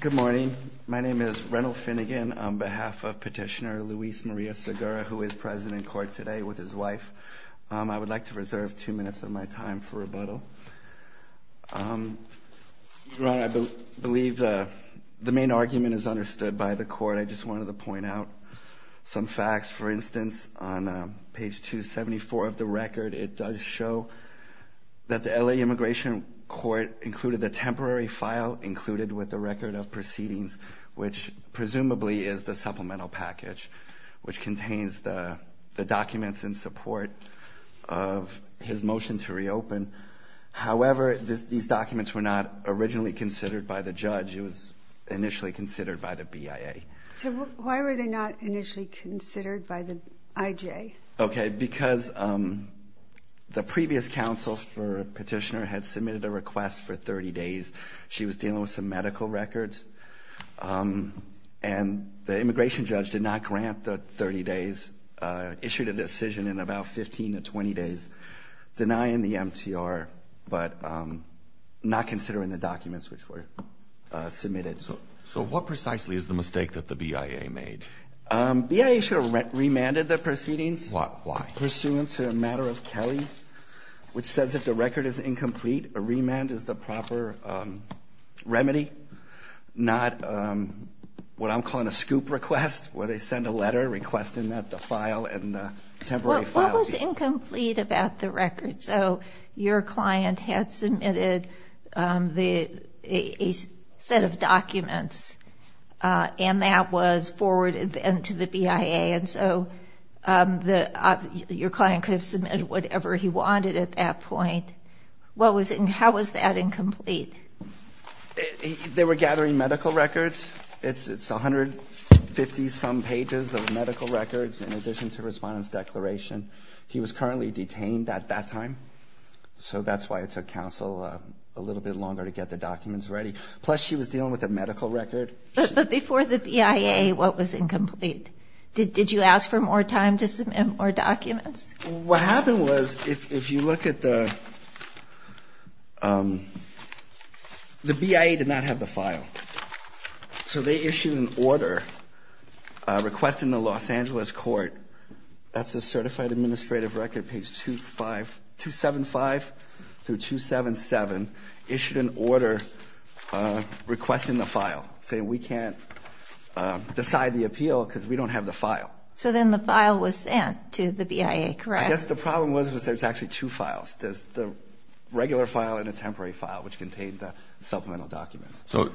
Good morning. My name is Reynold Finnegan on behalf of Petitioner Luis Maria Segura, who is president in court today with his wife. I would like to reserve two minutes of my time for rebuttal. Your Honor, I believe the main argument is understood by the court. I just wanted to point out some facts. For instance, on page 274 of the record, it does show that the L.A. Immigration Court included the temporary file included with the record of proceedings, which presumably is the supplemental package, which contains the documents in support of his motion to reopen. However, these documents were not originally considered by the judge. It was initially considered by the BIA. So why were they not initially considered by the IJ? Okay, because the previous counsel for Petitioner had submitted a request for 30 days. She was dealing with some medical records, and the immigration judge did not grant the 30 days, issued a decision in about 15 to 20 days, denying the MTR but not considering the documents which were submitted. So what precisely is the mistake that the BIA made? BIA should have remanded the proceedings. Why? Pursuant to a matter of Kelly, which says if the record is incomplete, a remand is the proper remedy, not what I'm calling a scoop request, where they send a letter requesting that the file and the temporary file be— and that was forwarded to the BIA. And so your client could have submitted whatever he wanted at that point. How was that incomplete? They were gathering medical records. It's 150-some pages of medical records in addition to a respondent's declaration. He was currently detained at that time. So that's why it took counsel a little bit longer to get the documents ready. Plus, she was dealing with a medical record. But before the BIA, what was incomplete? Did you ask for more time to submit more documents? What happened was, if you look at the—the BIA did not have the file. So they issued an order requesting the Los Angeles court. That's a certified administrative record, page 275-277, issued an order requesting the file, saying we can't decide the appeal because we don't have the file. So then the file was sent to the BIA, correct? I guess the problem was there's actually two files. There's the regular file and a temporary file, which contained the supplemental documents. So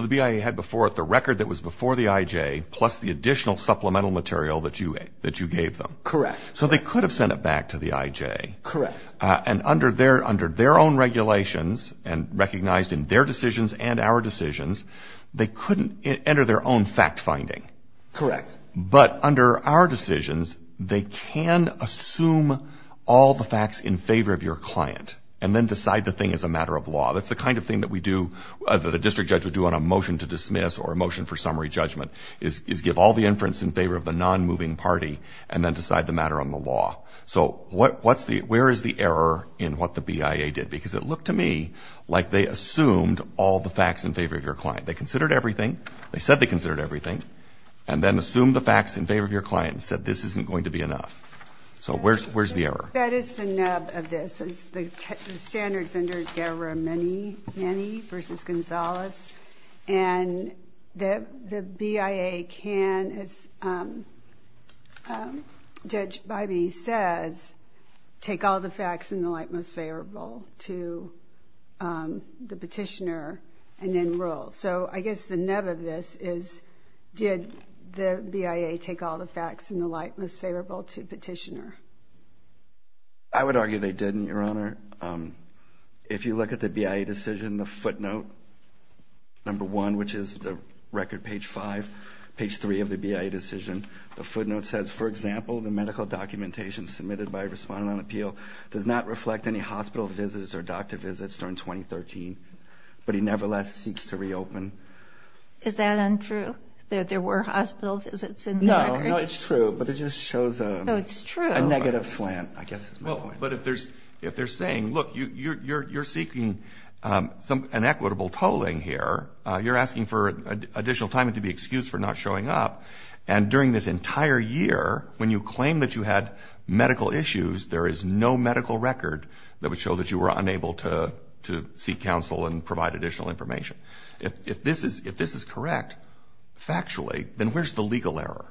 the BIA had before it the record that was before the IJ, plus the additional supplemental material that you gave them. Correct. So they could have sent it back to the IJ. Correct. And under their own regulations and recognized in their decisions and our decisions, they couldn't enter their own fact-finding. Correct. But under our decisions, they can assume all the facts in favor of your client and then decide the thing as a matter of law. That's the kind of thing that we do, that a district judge would do on a motion to dismiss or a motion for summary judgment, is give all the inference in favor of the non-moving party and then decide the matter on the law. So where is the error in what the BIA did? Because it looked to me like they assumed all the facts in favor of your client. They considered everything. They said they considered everything and then assumed the facts in favor of your client and said this isn't going to be enough. So where's the error? That is the nub of this. The standards under Guerra-Maney v. Gonzalez, and the BIA can, as Judge Bybee says, take all the facts in the light most favorable to the petitioner and then rule. So I guess the nub of this is did the BIA take all the facts in the light most favorable to the petitioner? I would argue they didn't, Your Honor. If you look at the BIA decision, the footnote, number one, which is the record page five, page three of the BIA decision, the footnote says, for example, the medical documentation submitted by Respondent on Appeal does not reflect any hospital visits or doctor visits during 2013, but he nevertheless seeks to reopen. Is that untrue, that there were hospital visits in the record? No, no, it's true. But it just shows a negative slant, I guess is my point. But if they're saying, look, you're seeking an equitable tolling here, you're asking for additional time and to be excused for not showing up, and during this entire year when you claim that you had medical issues, there is no medical record that would show that you were unable to seek counsel and provide additional information. If this is correct factually, then where's the legal error?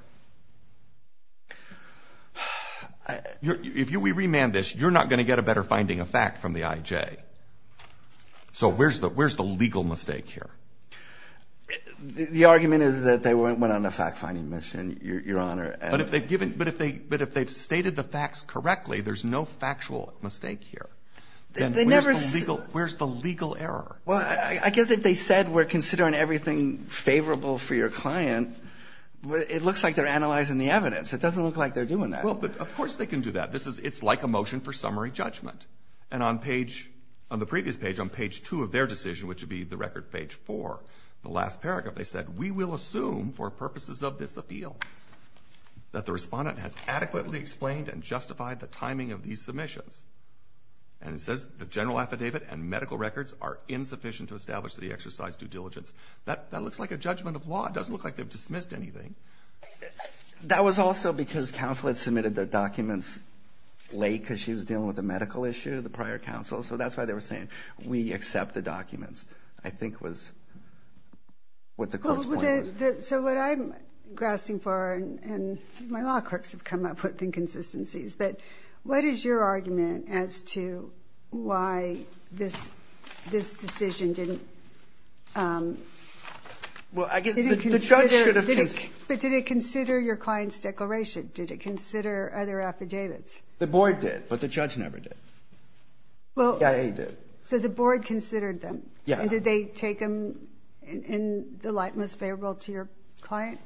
If we remand this, you're not going to get a better finding of fact from the IJ. So where's the legal mistake here? The argument is that they went on a fact-finding mission, Your Honor. But if they've stated the facts correctly, there's no factual mistake here. Then where's the legal error? Well, I guess if they said we're considering everything favorable for your client, it looks like they're analyzing the evidence. It doesn't look like they're doing that. Well, but of course they can do that. It's like a motion for summary judgment. And on the previous page, on page 2 of their decision, which would be the record page 4, the last paragraph, they said, we will assume for purposes of this appeal that the Respondent has adequately explained and justified the timing of these submissions. And it says the general affidavit and medical records are insufficient to establish that he exercised due diligence. That looks like a judgment of law. It doesn't look like they've dismissed anything. That was also because counsel had submitted the documents late because she was dealing with a medical issue, the prior counsel. So that's why they were saying we accept the documents, I think, was what the court's point was. So what I'm grasping for, and my law clerks have come up with inconsistencies, but what is your argument as to why this decision didn't? Well, I guess the judge should have considered. But did it consider your client's declaration? Did it consider other affidavits? The board did, but the judge never did. Yeah, he did. So the board considered them? Yeah. And did they take them in the light most favorable to your client?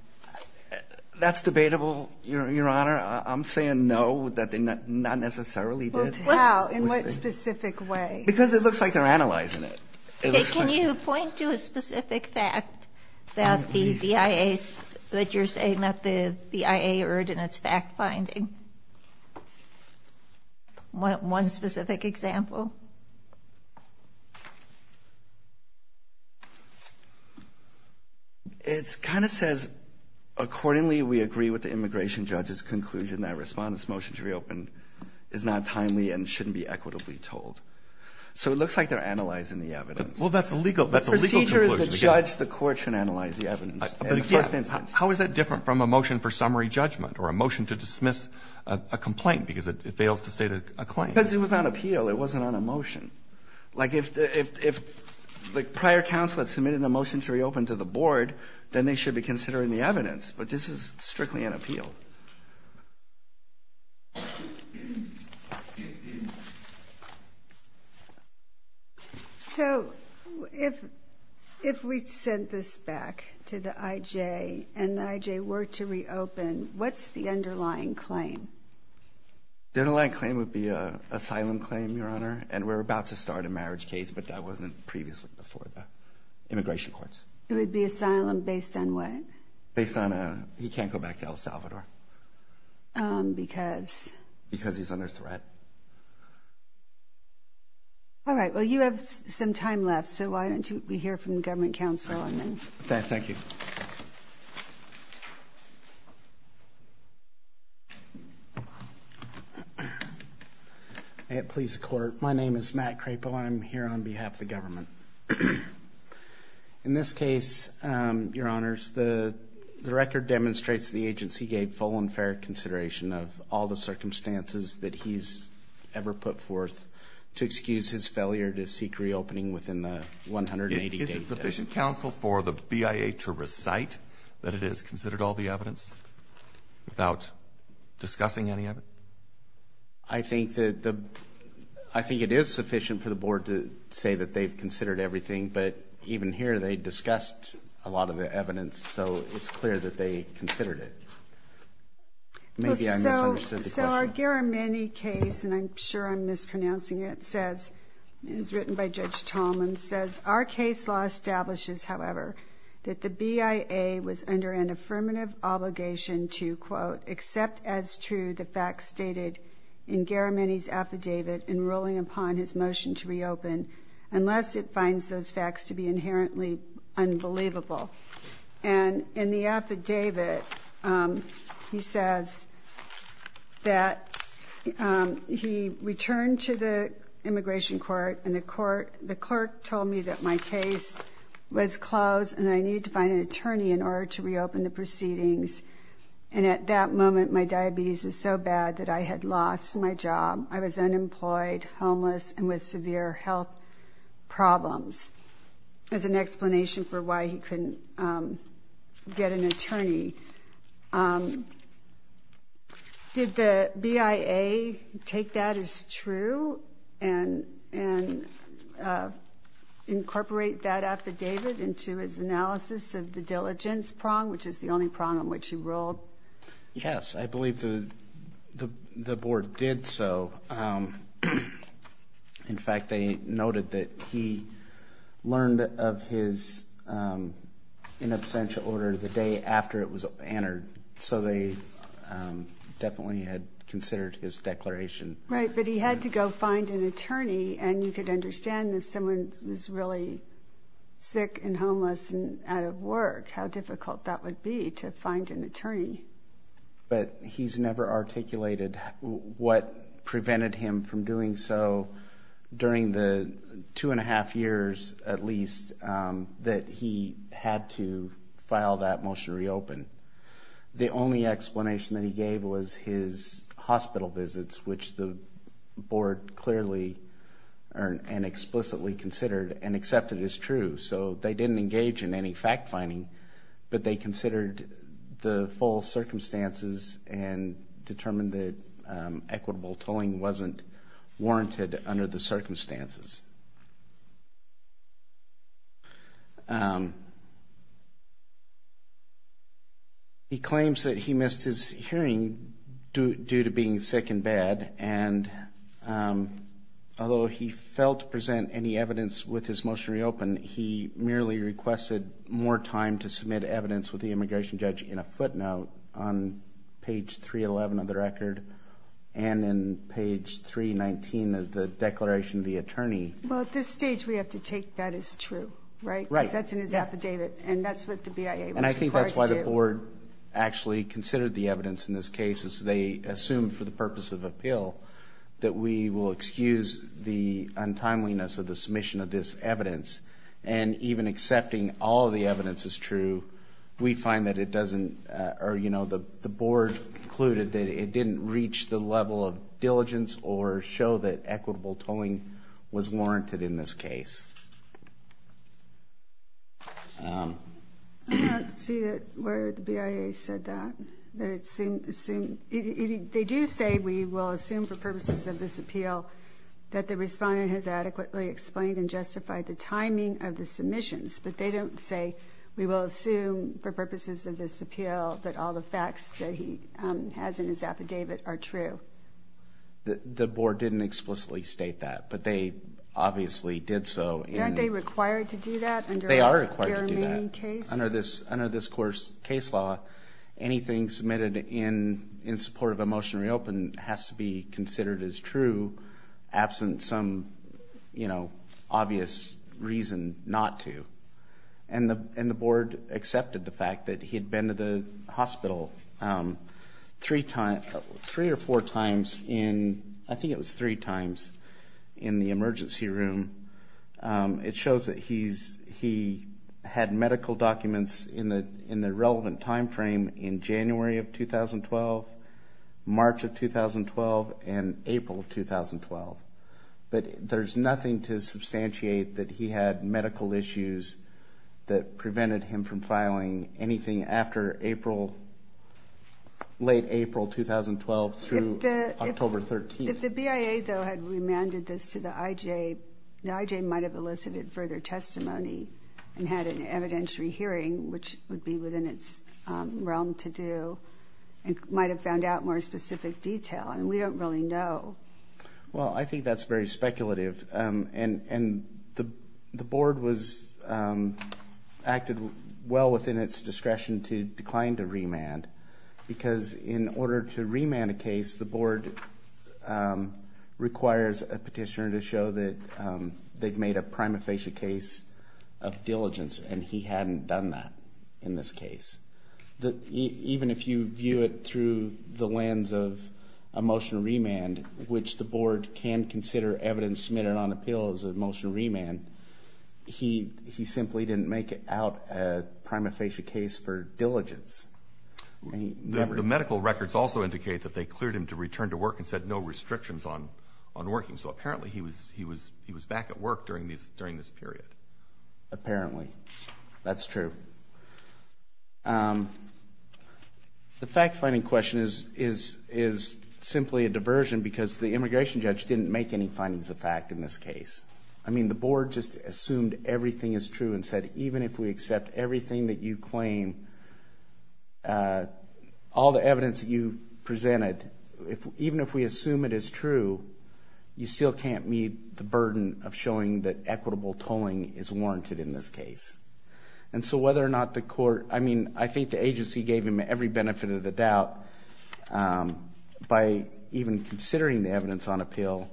That's debatable, Your Honor. I'm saying no, that they not necessarily did. Well, how? In what specific way? Because it looks like they're analyzing it. Okay. Can you point to a specific fact that the BIA, that you're saying that the BIA erred in its fact-finding? One specific example? It kind of says, Accordingly, we agree with the immigration judge's conclusion that a Respondent's motion to reopen is not timely and shouldn't be equitably told. So it looks like they're analyzing the evidence. Well, that's a legal conclusion. The procedure is the judge, the court should analyze the evidence. How is that different from a motion for summary judgment or a motion to dismiss a complaint because it fails to state a claim? Because it was on appeal. It wasn't on a motion. Like if prior counsel had submitted a motion to reopen to the board, then they should be considering the evidence. But this is strictly on appeal. So if we sent this back to the IJ and the IJ were to reopen, what's the underlying claim? The underlying claim would be an asylum claim, Your Honor, and we're about to start a marriage case, but that wasn't previously before the immigration courts. It would be asylum based on what? Based on he can't go back to El Salvador. Because? Because he's under threat. All right. Well, you have some time left, so why don't you hear from the government counsel and then. Thank you. Please, court. My name is Matt Crapo. I'm here on behalf of the government. In this case, Your Honors, the record demonstrates the agency gave full and fair consideration of all the circumstances that he's ever put forth to excuse his failure to seek reopening within the 180 days. Is it sufficient, counsel, for the BIA to recite that it has considered all the evidence without discussing any of it? I think it is sufficient for the board to say that they've considered everything, but even here they discussed a lot of the evidence, so it's clear that they considered it. Maybe I misunderstood the question. So our Garamendi case, and I'm sure I'm mispronouncing it, is written by Judge Tallman, says, our case law establishes, however, that the BIA was under an affirmative obligation to, quote, accept as true the facts stated in Garamendi's affidavit in ruling upon his motion to reopen unless it finds those facts to be inherently unbelievable. And in the affidavit, he says that he returned to the immigration court, and the clerk told me that my case was closed and I needed to find an attorney in order to reopen the proceedings. And at that moment, my diabetes was so bad that I had lost my job. I was unemployed, homeless, and with severe health problems, as an explanation for why he couldn't get an attorney. Did the BIA take that as true and incorporate that affidavit into his analysis of the diligence prong, which is the only prong on which he ruled? Yes, I believe the board did so. In fact, they noted that he learned of his in absentia order the day after it was entered, so they definitely had considered his declaration. Right, but he had to go find an attorney, and you could understand if someone was really sick and homeless and out of work how difficult that would be to find an attorney. But he's never articulated what prevented him from doing so during the two and a half years, at least, that he had to file that motion to reopen. The only explanation that he gave was his hospital visits, which the board clearly and explicitly considered and accepted as true. So they didn't engage in any fact-finding, but they considered the full circumstances and determined that equitable tolling wasn't warranted under the circumstances. He claims that he missed his hearing due to being sick and bad, and although he failed to present any evidence with his motion reopened, he merely requested more time to submit evidence with the immigration judge in a footnote on page 311 of the record and in page 319 of the declaration of the attorney. Well, at this stage, we have to take that as true, right? Because that's in his affidavit, and that's what the BIA was required to do. And I think that's why the board actually considered the evidence in this case, is they assumed for the purpose of appeal that we will excuse the untimeliness of the submission of this evidence. And even accepting all of the evidence as true, we find that it doesn't – or, you know, the board concluded that it didn't reach the level of diligence or show that equitable tolling was warranted in this case. I don't see that where the BIA said that, that it assumed – they do say we will assume for purposes of this appeal that the respondent has adequately explained and justified the timing of the submissions, but they don't say we will assume for purposes of this appeal that all the facts that he has in his affidavit are true. The board didn't explicitly state that, but they obviously did so. Aren't they required to do that under their remaining case? They are required to do that. Under this court's case law, anything submitted in support of a motion to reopen has to be considered as true absent some, you know, obvious reason not to. And the board accepted the fact that he had been to the hospital three or four times in – I think it was three times in the emergency room. It shows that he had medical documents in the relevant timeframe in January of 2012, March of 2012, and April of 2012. But there's nothing to substantiate that he had medical issues that prevented him from filing anything after April – late April 2012 through October 13th. If the BIA, though, had remanded this to the IJ, the IJ might have elicited further testimony and had an evidentiary hearing, which would be within its realm to do, and might have found out more specific detail. I mean, we don't really know. Well, I think that's very speculative, and the board was – acted well within its discretion to decline to remand because in order to remand a case, the board requires a petitioner to show that they've made a prima facie case of diligence, and he hadn't done that in this case. Even if you view it through the lens of a motion to remand, which the board can consider evidence submitted on appeal as a motion to remand, he simply didn't make out a prima facie case for diligence. The medical records also indicate that they cleared him to return to work and said no restrictions on working, so apparently he was back at work during this period. Apparently. That's true. The fact-finding question is simply a diversion because the immigration judge didn't make any findings of fact in this case. I mean, the board just assumed everything is true and said even if we accept everything that you claim, all the evidence that you presented, even if we assume it is true, you still can't meet the burden of showing that equitable tolling is warranted in this case. And so whether or not the court, I mean, I think the agency gave him every benefit of the doubt by even considering the evidence on appeal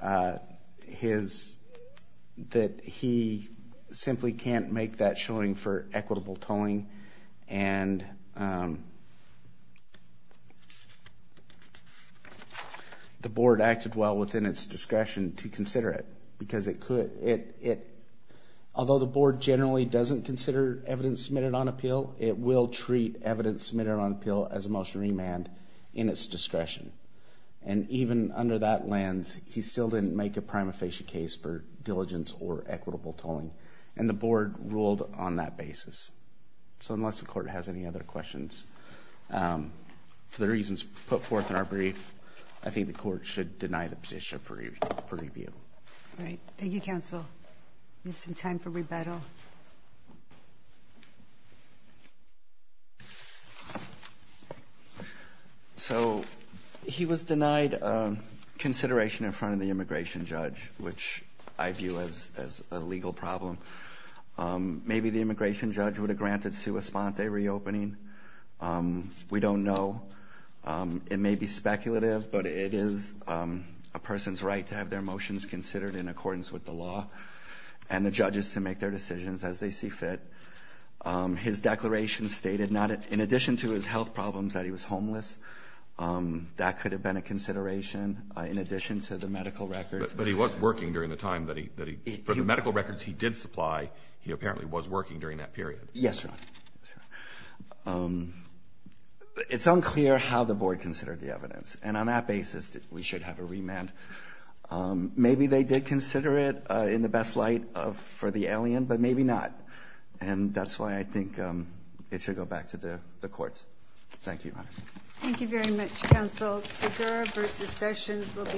that he simply can't make that showing for equitable tolling and the board acted well within its discretion to consider it because it could, although the board generally doesn't consider evidence submitted on appeal, it will treat evidence submitted on appeal as a motion to remand in its discretion. And even under that lens, he still didn't make a prima facie case for diligence or equitable tolling and the board ruled on that basis. So unless the court has any other questions, for the reasons put forth in our brief, I think the court should deny the position for review. Thank you, counsel. We have some time for rebuttal. So he was denied consideration in front of the immigration judge, which I view as a legal problem. Maybe the immigration judge would have granted sua sponte reopening. We don't know. It may be speculative, but it is a person's right to have their motions considered in accordance with the law and the judges to make their decisions as they see fit. His declaration stated, in addition to his health problems, that he was homeless. That could have been a consideration in addition to the medical records. But he was working during the time that he, for the medical records he did supply, he apparently was working during that period. Yes, Your Honor. It's unclear how the board considered the evidence. And on that basis, we should have a remand. Maybe they did consider it in the best light for the alien, but maybe not. And that's why I think it should go back to the courts. Thank you, Your Honor.